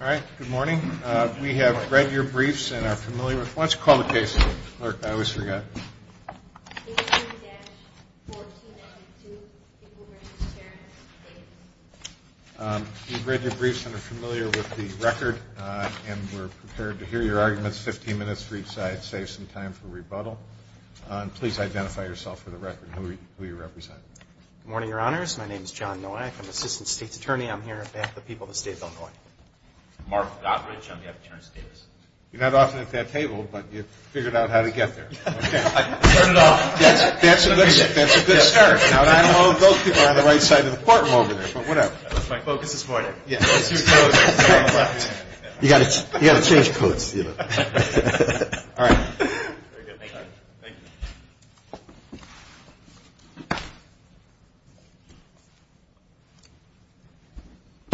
All right. Good morning. We have read your briefs and are familiar with the record and we're prepared to hear your arguments. 15 minutes for each side. Save some time for rebuttal. Please identify yourself for the record and who you represent. Good morning, Your Honors. My name is John Nowak. I'm the Assistant State's Attorney. I'm here to back the people of the State of Illinois. Mark Doddridge. I'm the Attorney's Davis. You're not often at that table, but you figured out how to get there. I turned it off. That's a good start. Now I know those people are on the right side of the courtroom over there, but whatever. My focus is more there. You've got to change codes. All right. Very good. Thank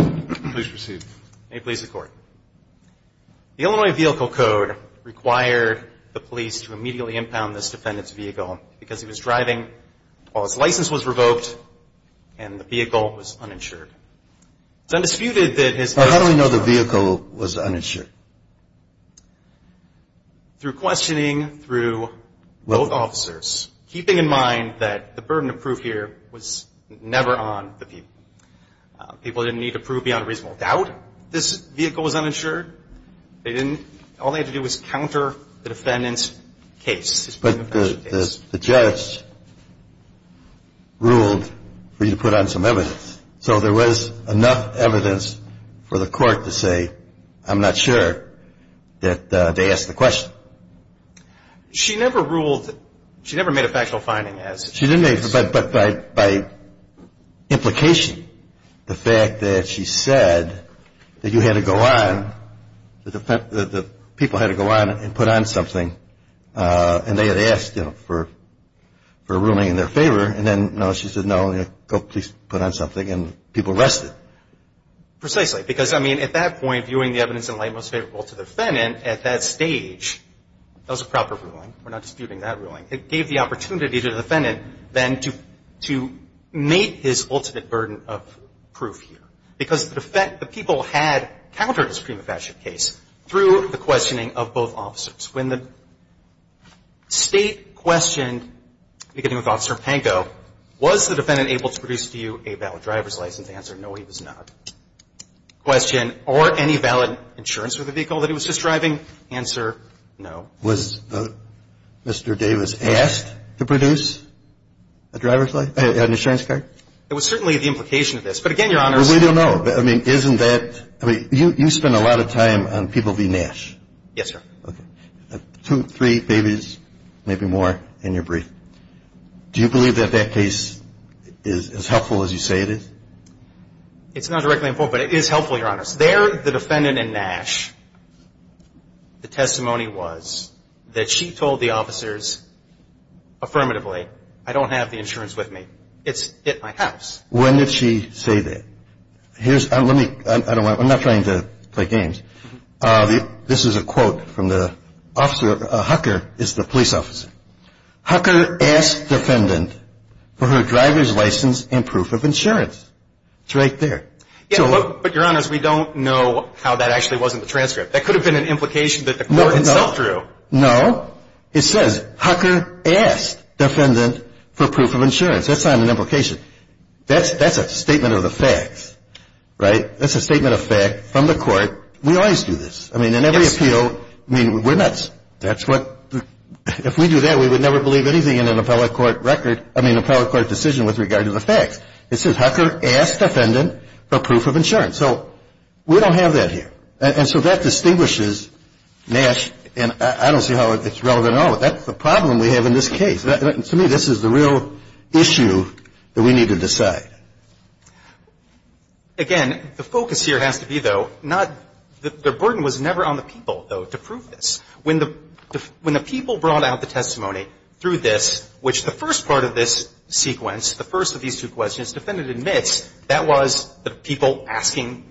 you. Please proceed. May it please the Court. The Illinois Vehicle Code required the police to immediately impound this defendant's vehicle because he was driving while his license was revoked and the vehicle was uninsured. It's undisputed that his vehicle was uninsured. How do we know the vehicle was uninsured? Through questioning through both officers, keeping in mind that the burden of proof here was never on the people. People didn't need to prove beyond reasonable doubt this vehicle was uninsured. All they had to do was counter the defendant's case. But the judge ruled for you to put on some evidence. So there was enough evidence for the court to say, I'm not sure that they asked the question. She never ruled. She never made a factual finding. But by implication, the fact that she said that you had to go on, that the people had to go on and put on something, and they had asked for a ruling in their favor, and then she said, no, please put on something, and people rested. Precisely. Because, I mean, at that point, viewing the evidence in light most favorable to the defendant at that stage, that was a proper ruling. We're not disputing that ruling. It gave the opportunity to the defendant then to meet his ultimate burden of proof here. So in the case of the driver's license, the defense had to make a valid driver's license, because the people had countered this prima facie case through the questioning of both officers. When the State questioned, beginning with Officer Pankow, was the defendant able to produce to you a valid driver's license, the answer, no, he was not. Question. Or any valid insurance for the vehicle that he was just driving. The answer, no. Was Mr. Davis asked to produce a driver's license, an insurance card? It was certainly the implication of this. But again, Your Honor, we don't know. I mean, isn't that, I mean, you spend a lot of time on people v. Nash. Yes, sir. Okay. Two, three babies, maybe more, in your brief. Do you believe that that case is as helpful as you say it is? It's not directly important, but it is helpful, Your Honor. There, the defendant in Nash, the testimony was that she told the officers affirmatively, I don't have the insurance with me. It's at my house. When did she say that? Here's, let me, I don't want, I'm not trying to play games. This is a quote from the officer, Hucker is the police officer. Hucker asked defendant for her driver's license and proof of insurance. It's right there. But, Your Honor, we don't know how that actually was in the transcript. That could have been an implication that the court itself drew. No. It says, Hucker asked defendant for proof of insurance. That's not an implication. That's a statement of the facts, right? That's a statement of fact from the court. We always do this. I mean, in every appeal, I mean, we're nuts. That's what, if we do that, we would never believe anything in an appellate court record, I mean, appellate court decision with regard to the facts. It says, Hucker asked defendant for proof of insurance. So we don't have that here. And so that distinguishes Nash, and I don't see how it's relevant at all. But that's the problem we have in this case. To me, this is the real issue that we need to decide. Again, the focus here has to be, though, not, the burden was never on the people, though, to prove this. When the people brought out the testimony through this, which the first part of this sequence, the first of these two questions, defendant admits that was the people asking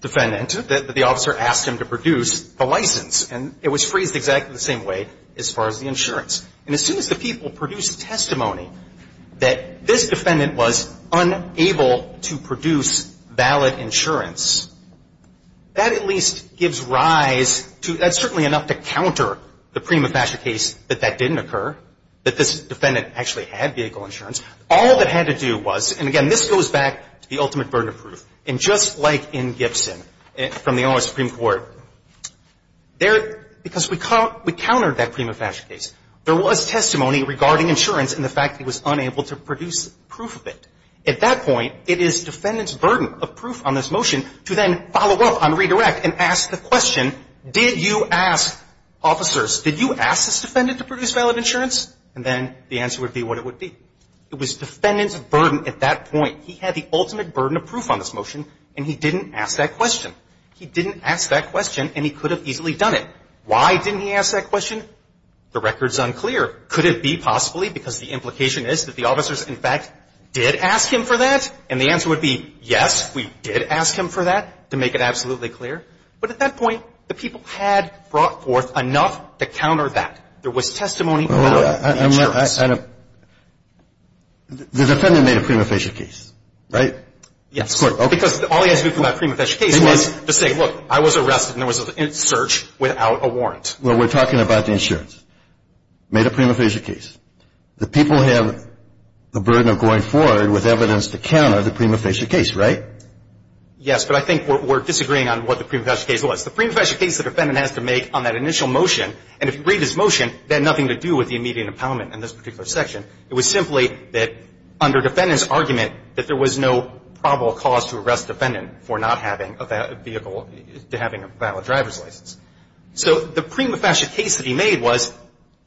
defendant, that the officer asked him to produce the license. And it was phrased exactly the same way as far as the insurance. And as soon as the people produced the testimony that this defendant was unable to produce valid insurance, that at least gives rise to, that's certainly enough to counter the prima facie case that that didn't occur, that this defendant actually had vehicle insurance. All that had to do was, and again, this goes back to the ultimate burden of proof. And just like in Gibson, from the U.S. Supreme Court, there, because we countered that prima facie case, there was testimony regarding insurance and the fact that he was unable to produce proof of it. At that point, it is defendant's burden of proof on this motion to then follow up on redirect and ask the question, did you ask officers, did you ask this defendant to produce valid insurance? And then the answer would be what it would be. It was defendant's burden at that point. He had the ultimate burden of proof on this motion, and he didn't ask that question. He didn't ask that question, and he could have easily done it. Why didn't he ask that question? The record's unclear. Could it be possibly because the implication is that the officers, in fact, did ask him for that? And the answer would be, yes, we did ask him for that, to make it absolutely But at that point, the people had brought forth enough to counter that. There was testimony about the insurance. The defendant made a prima facie case, right? Yes. Because all he had to do for that prima facie case was to say, look, I was arrested and there was a search without a warrant. Well, we're talking about the insurance. Made a prima facie case. The people have the burden of going forward with evidence to counter the prima facie case, right? Yes, but I think we're disagreeing on what the prima facie case was. The prima facie case the defendant has to make on that initial motion, and if you look at his motion, it had nothing to do with the immediate impoundment in this particular section. It was simply that under defendant's argument that there was no probable cause to arrest a defendant for not having a vehicle, to having a valid driver's license. So the prima facie case that he made was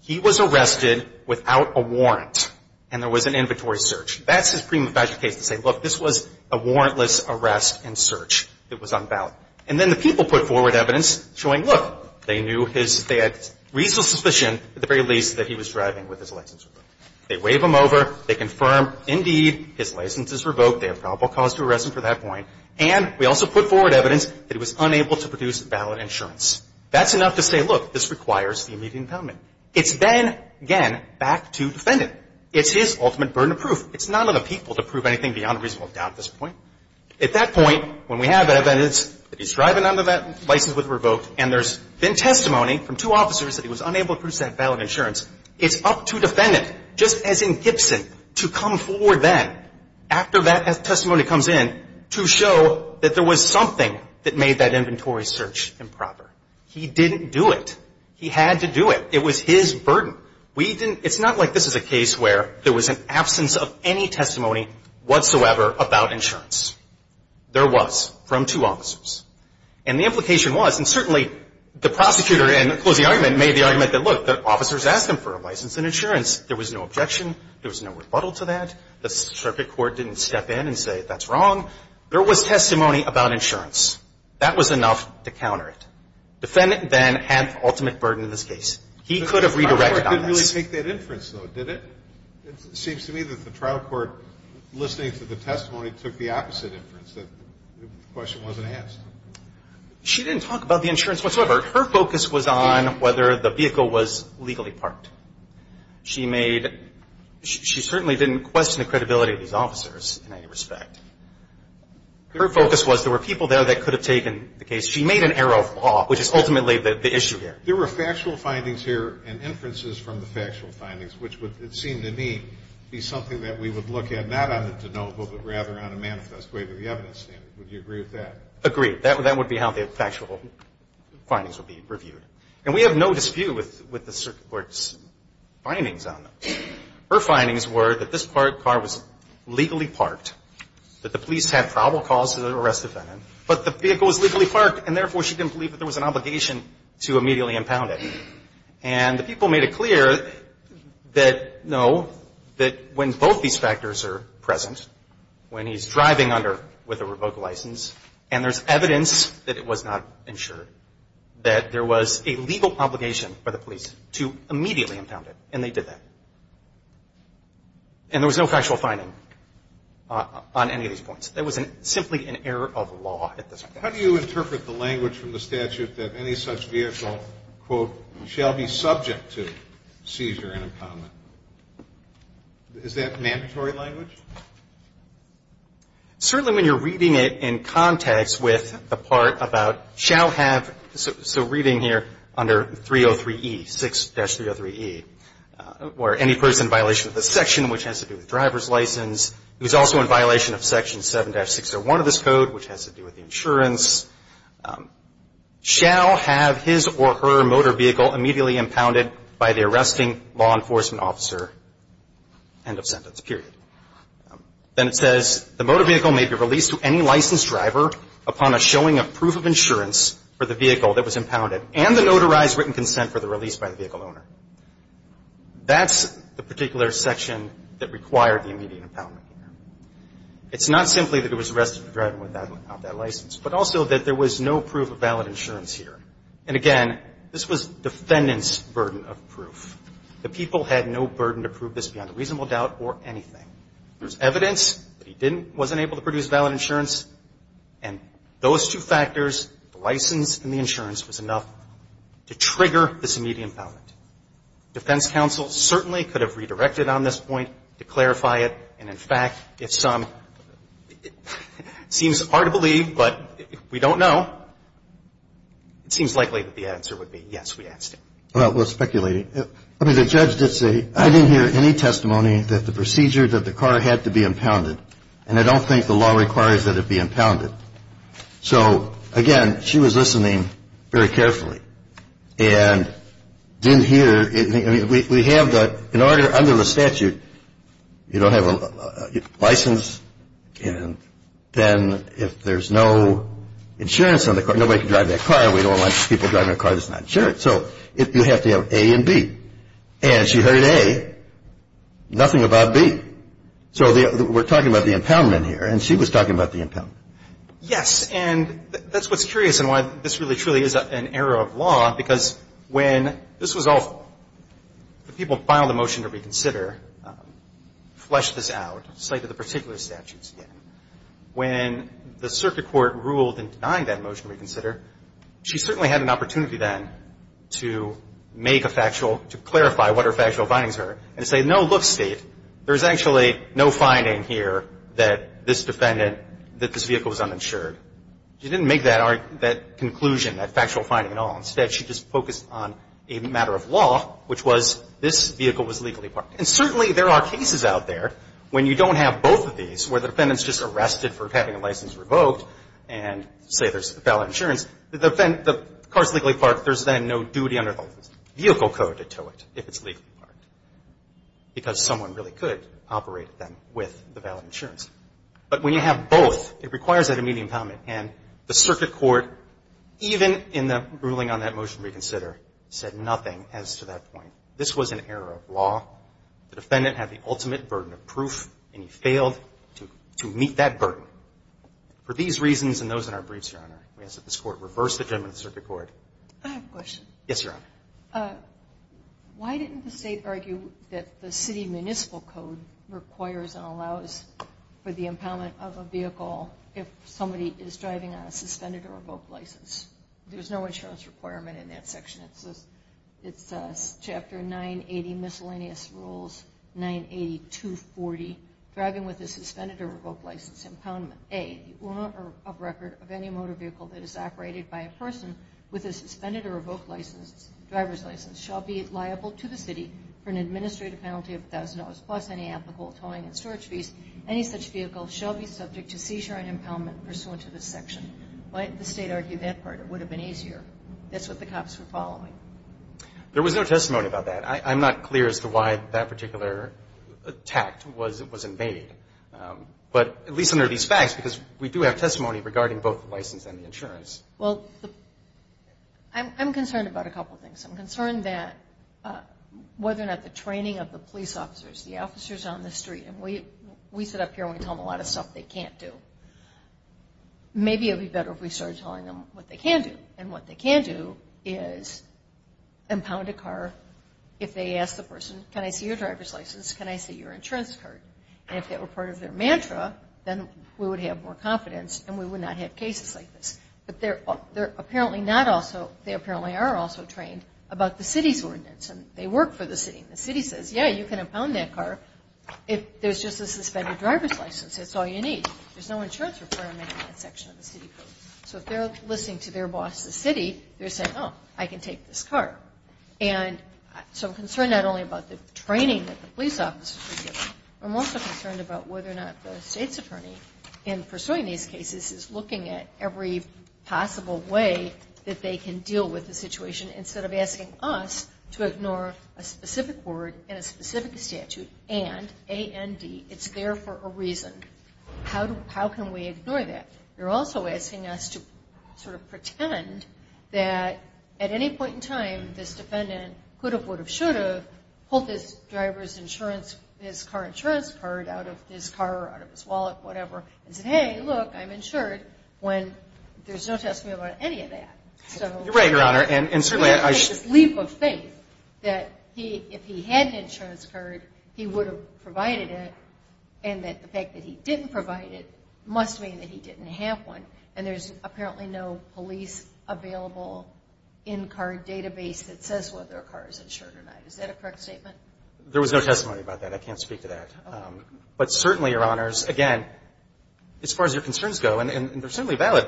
he was arrested without a warrant and there was an inventory search. That's his prima facie case to say, look, this was a warrantless arrest and search that was unvalid. And then the people put forward evidence showing, look, they knew his – they had reasonable suspicion at the very least that he was driving with his license revoked. They wave him over. They confirm, indeed, his license is revoked. They have probable cause to arrest him for that point. And we also put forward evidence that he was unable to produce valid insurance. That's enough to say, look, this requires the immediate impoundment. It's then, again, back to defendant. It's his ultimate burden of proof. It's not on the people to prove anything beyond reasonable doubt at this point. At that point, when we have evidence that he's driving under that license was revoked and there's been testimony from two officers that he was unable to produce that valid insurance, it's up to defendant, just as in Gibson, to come forward then, after that testimony comes in, to show that there was something that made that inventory search improper. He didn't do it. He had to do it. It was his burden. We didn't – it's not like this is a case where there was an absence of any testimony whatsoever about insurance. There was, from two officers. And the implication was, and certainly the prosecutor, in closing argument, made the argument that, look, the officers asked him for a license and insurance. There was no objection. There was no rebuttal to that. The circuit court didn't step in and say that's wrong. There was testimony about insurance. That was enough to counter it. Defendant then had the ultimate burden in this case. He could have redirected on this. The trial court didn't really take that inference, though, did it? It seems to me that the trial court, listening to the testimony, took the opposite inference, that the question wasn't asked. She didn't talk about the insurance whatsoever. Her focus was on whether the vehicle was legally parked. She made – she certainly didn't question the credibility of these officers in any respect. Her focus was there were people there that could have taken the case. She made an arrow of law, which is ultimately the issue here. There were factual findings here and inferences from the factual findings, which would, it seemed to me, be something that we would look at, not on the de novo, but rather on a manifest way to the evidence standard. Would you agree with that? Agreed. That would be how the factual findings would be reviewed. And we have no dispute with the circuit court's findings on them. Her findings were that this car was legally parked, that the police had probable cause to arrest the defendant, but the vehicle was legally parked, and therefore she didn't believe that there was an obligation to immediately impound it. And the people made it clear that, no, that when both these factors are present, when he's driving under with a revoked license and there's evidence that it was not insured, that there was a legal obligation by the police to immediately impound it, and they did that. And there was no factual finding on any of these points. There was simply an error of law at this point. How do you interpret the language from the statute that any such vehicle, quote, shall be subject to seizure and impoundment? Is that mandatory language? Certainly when you're reading it in context with the part about shall have, so reading here under 303E, 6-303E, where any person in violation of this section, which has to do with driver's license, who is also in violation of Section 7-601 of this license, shall have his or her motor vehicle immediately impounded by the arresting law enforcement officer, end of sentence, period. Then it says, the motor vehicle may be released to any licensed driver upon a showing of proof of insurance for the vehicle that was impounded and the notarized written consent for the release by the vehicle owner. That's the particular section that required the immediate impoundment here. It's not simply that it was arrested for driving without that license, but also that there was no proof of valid insurance here. And again, this was defendant's burden of proof. The people had no burden to prove this beyond a reasonable doubt or anything. There's evidence that he didn't, wasn't able to produce valid insurance, and those two factors, the license and the insurance, was enough to trigger this immediate impoundment. Defense counsel certainly could have redirected on this point to clarify it, and in fact, if some, seems hard to believe, but we don't know, it seems likely that the answer would be yes, we asked him. Well, we're speculating. I mean, the judge did say, I didn't hear any testimony that the procedure that the car had to be impounded, and I don't think the law requires that it be impounded. So, again, she was listening very carefully and didn't hear, I mean, we have the, in order, under the statute, you don't have a license, and then if there's no insurance on the car, nobody can drive that car. We don't want people driving a car that's not insured. So you have to have A and B. And she heard A, nothing about B. So we're talking about the impoundment here, and she was talking about the impoundment. Yes. And that's what's curious and why this really, truly is an error of law, because when this was awful, the people who filed the motion to reconsider fleshed this out, cited the particular statutes again. When the circuit court ruled in denying that motion to reconsider, she certainly had an opportunity then to make a factual, to clarify what her factual findings are, and say, no, look, State, there's actually no finding here that this defendant, that this vehicle was uninsured. She didn't make that conclusion, that factual finding at all. Instead, she just focused on a matter of law, which was this vehicle was legally parked. And certainly there are cases out there when you don't have both of these, where the defendant's just arrested for having a license revoked, and say there's valid insurance. The car's legally parked. There's then no duty under the vehicle code to tow it if it's legally parked, because someone really could operate them with the valid insurance. But when you have both, it requires that immediate impoundment. And the circuit court, even in the ruling on that motion to reconsider, said nothing as to that point. This was an error of law. The defendant had the ultimate burden of proof, and he failed to meet that burden. For these reasons and those in our briefs, Your Honor, we ask that this Court reverse the judgment of the circuit court. I have a question. Yes, Your Honor. Why didn't the State argue that the city municipal code requires and allows for the driving on a suspended or revoked license? There's no insurance requirement in that section. It's Chapter 980, Miscellaneous Rules 98240. Driving with a suspended or revoked license impoundment, A, the owner of record of any motor vehicle that is operated by a person with a suspended or revoked license, driver's license, shall be liable to the city for an administrative penalty of $1,000, plus any applicable towing and storage fees. Any such vehicle shall be subject to seizure and impoundment pursuant to this section. Why didn't the State argue that part? It would have been easier. That's what the cops were following. There was no testimony about that. I'm not clear as to why that particular tact was invaded. But at least under these facts, because we do have testimony regarding both the license and the insurance. Well, I'm concerned about a couple things. I'm concerned that whether or not the training of the police officers, the officers on the We sit up here and we tell them a lot of stuff they can't do. Maybe it would be better if we started telling them what they can do. And what they can do is impound a car if they ask the person, can I see your driver's license? Can I see your insurance card? And if that were part of their mantra, then we would have more confidence and we would not have cases like this. But they're apparently not also, they apparently are also trained about the city's ordinance. And they work for the city. And the city says, yeah, you can impound that car if there's just a suspended driver's license. That's all you need. There's no insurance requirement in that section of the city code. So if they're listening to their boss, the city, they're saying, oh, I can take this car. And so I'm concerned not only about the training that the police officers were given. I'm also concerned about whether or not the state's attorney in pursuing these cases is looking at every possible way that they can deal with the situation instead of asking us to ignore a specific word in a specific statute and A.N.D. It's there for a reason. How can we ignore that? They're also asking us to sort of pretend that at any point in time, this defendant could have, would have, should have pulled his driver's insurance, his car insurance card out of his car or out of his wallet, whatever, and said, hey, look, I'm insured, when there's no testimony about any of that. You're right, Your Honor. And certainly I should There's this leap of faith that if he had an insurance card, he would have provided it, and that the fact that he didn't provide it must mean that he didn't have one. And there's apparently no police available in-car database that says whether a car is insured or not. Is that a correct statement? There was no testimony about that. I can't speak to that. But certainly, Your Honors, again, as far as your concerns go, and they're certainly valid,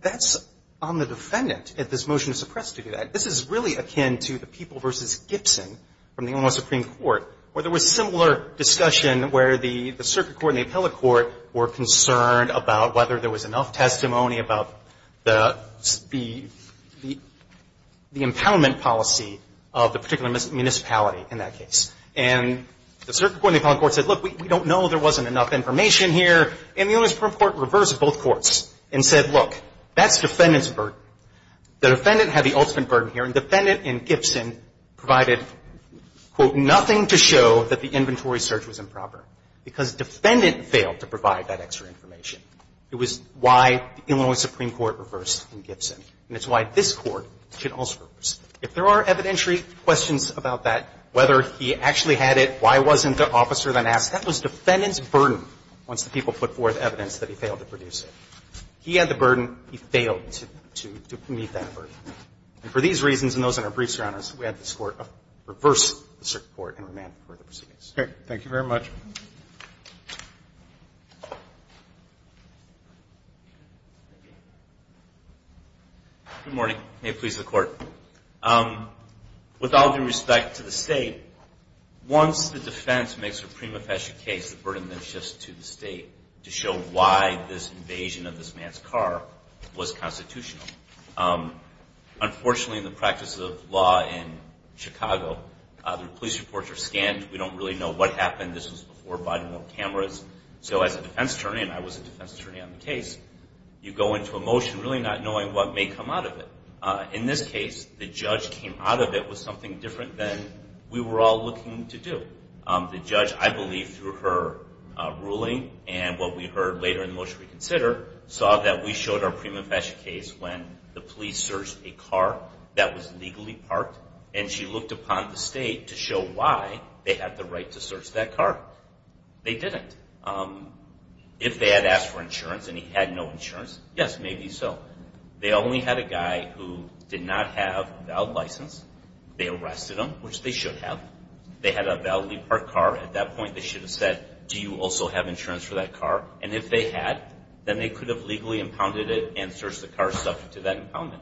that's on the defendant if this motion is suppressed to do that. This is really akin to the People v. Gibson from the Illinois Supreme Court, where there was similar discussion where the circuit court and the appellate court were concerned about whether there was enough testimony about the, the, the empowerment policy of the particular municipality in that case. And the circuit court and the appellate court said, look, we don't know. There wasn't enough information here. And the Illinois Supreme Court reversed both courts and said, look, that's defendant's burden. The defendant had the ultimate burden here, and defendant in Gibson provided, quote, nothing to show that the inventory search was improper, because defendant failed to provide that extra information. It was why the Illinois Supreme Court reversed in Gibson, and it's why this Court should also reverse. If there are evidentiary questions about that, whether he actually had it, why wasn't the officer then asked, that was defendant's burden, once the people put forth evidence that he failed to produce it. He had the burden. He failed to, to, to meet that burden. And for these reasons, and those in our briefs, Your Honors, we had this Court reverse the circuit court and remand for the proceedings. Okay. Thank you very much. Good morning. May it please the Court. With all due respect to the State, once the defense makes a prima facie case, the burden then shifts to the State to show why this invasion of this man's car was constitutional. Unfortunately, in the practice of law in Chicago, the police reports are scanned. We don't really know what happened. This was before Biden wore cameras. So as a defense attorney, and I was a defense attorney on the case, you go into a motion really not knowing what may come out of it. In this case, the judge came out of it with something different than we were all looking to do. The judge, I believe, through her ruling and what we heard later in the motion we consider, saw that we showed our prima facie case when the police searched a car that was legally parked, and she looked upon the State to show why they had the right to search that car. They didn't. If they had asked for insurance and he had no insurance, yes, maybe so. They only had a guy who did not have a valid license. They arrested him, which they should have. They had a validly parked car. At that point they should have said, do you also have insurance for that car? And if they had, then they could have legally impounded it and searched the car subject to that impoundment.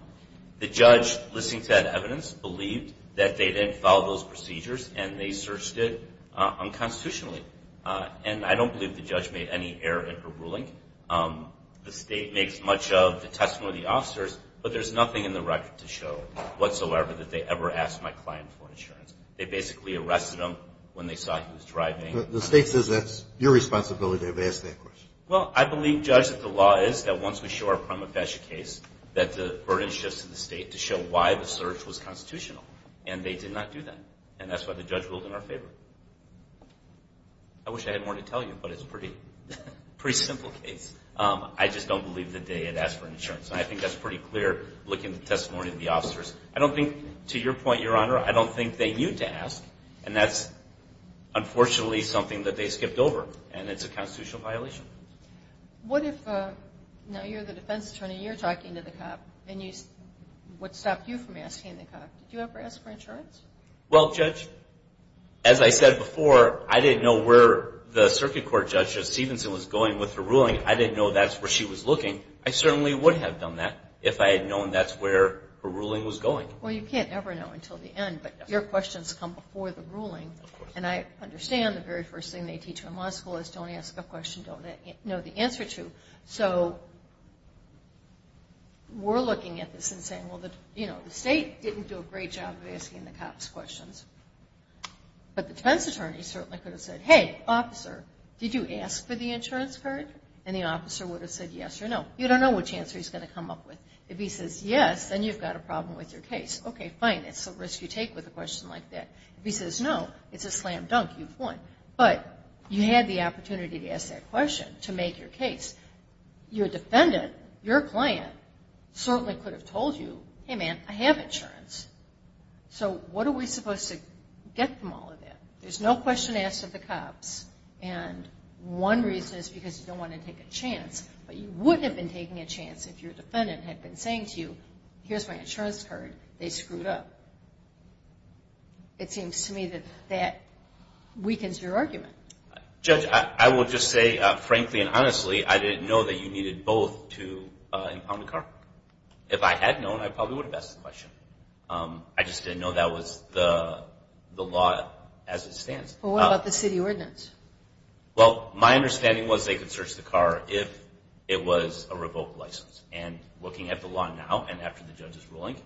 The judge, listening to that evidence, believed that they didn't follow those procedures and they searched it unconstitutionally. And I don't believe the judge made any error in her ruling. The State makes much of the testimony of the officers, but there's nothing in the record to show whatsoever that they ever asked my client for insurance. They basically arrested him when they saw he was driving. The State says that's your responsibility to have asked that question. Well, I believe, Judge, that the law is that once we show our prima facie case that the burden shifts to the State to show why the search was constitutional, and they did not do that. And that's why the judge ruled in our favor. I wish I had more to tell you, but it's a pretty simple case. I just don't believe that they had asked for insurance. And I think that's pretty clear looking at the testimony of the officers. I don't think, to your point, Your Honor, I don't think they knew to ask, and that's unfortunately something that they skipped over, and it's a constitutional violation. What if, now you're the defense attorney, you're talking to the cop, Did you ever ask for insurance? Well, Judge, as I said before, I didn't know where the circuit court judge of Stevenson was going with her ruling. I didn't know that's where she was looking. I certainly would have done that if I had known that's where her ruling was going. Well, you can't ever know until the end. But your questions come before the ruling. And I understand the very first thing they teach you in law school is don't ask a question, don't know the answer to. So we're looking at this and saying, well, the State didn't do a great job of asking the cops questions. But the defense attorney certainly could have said, hey, officer, did you ask for the insurance card? And the officer would have said yes or no. You don't know which answer he's going to come up with. If he says yes, then you've got a problem with your case. Okay, fine, it's a risk you take with a question like that. If he says no, it's a slam dunk, you've won. But you had the opportunity to ask that question to make your case. Your defendant, your client, certainly could have told you, hey, man, I have insurance. So what are we supposed to get from all of that? There's no question asked of the cops. And one reason is because you don't want to take a chance. But you wouldn't have been taking a chance if your defendant had been saying to you, here's my insurance card, they screwed up. It seems to me that that weakens your argument. Judge, I will just say, frankly and honestly, I didn't know that you needed both to impound the car. If I had known, I probably would have asked the question. I just didn't know that was the law as it stands. Well, what about the city ordinance? Well, my understanding was they could search the car if it was a revoked license. And looking at the law now and after the judge's ruling,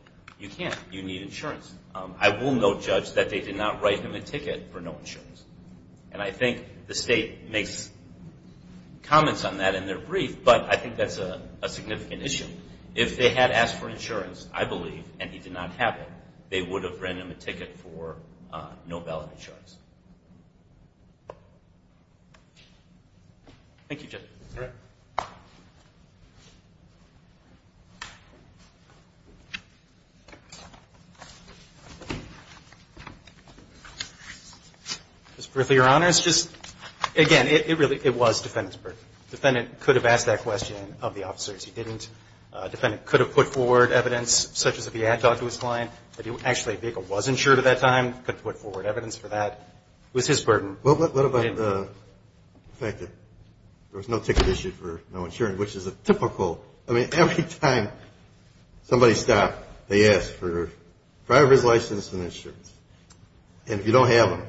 you can't. You need insurance. I will note, Judge, that they did not write him a ticket for no insurance. And I think the state makes comments on that in their brief, but I think that's a significant issue. If they had asked for insurance, I believe, and he did not have it, they would have written him a ticket for no valid insurance. Thank you, Judge. You're welcome. Just briefly, Your Honor, it's just, again, it really, it was defendant's burden. He didn't answer that question of the officers. He didn't. Defendant could have put forward evidence, such as if he had talked to his client, if actually a vehicle was insured at that time, could put forward evidence for that. It was his burden. Well, what about the fact that there was no ticket issued for no insurance, which is a typical, I mean, every time somebody stopped, they asked for driver's license and insurance. And if you don't have them,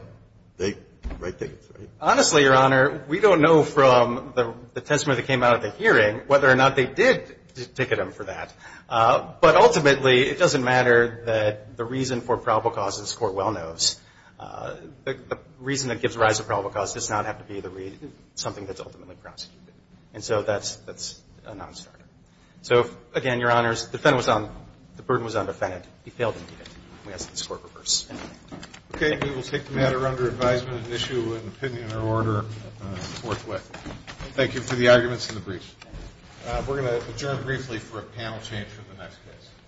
they write tickets, right? Honestly, Your Honor, we don't know from the testimony that came out of the hearing whether or not they did ticket him for that. But ultimately, it doesn't matter that the reason for probable cause, this Court well knows, the reason that gives rise to probable cause does not have to be something that's ultimately prosecuted. And so that's a nonstarter. So, again, Your Honors, the burden was on the defendant. He failed to do that. We ask that this Court reverse. Okay. We will take the matter under advisement and issue an opinion or order forthwith. Thank you for the arguments and the briefs. We're going to adjourn briefly for a panel change for the next case.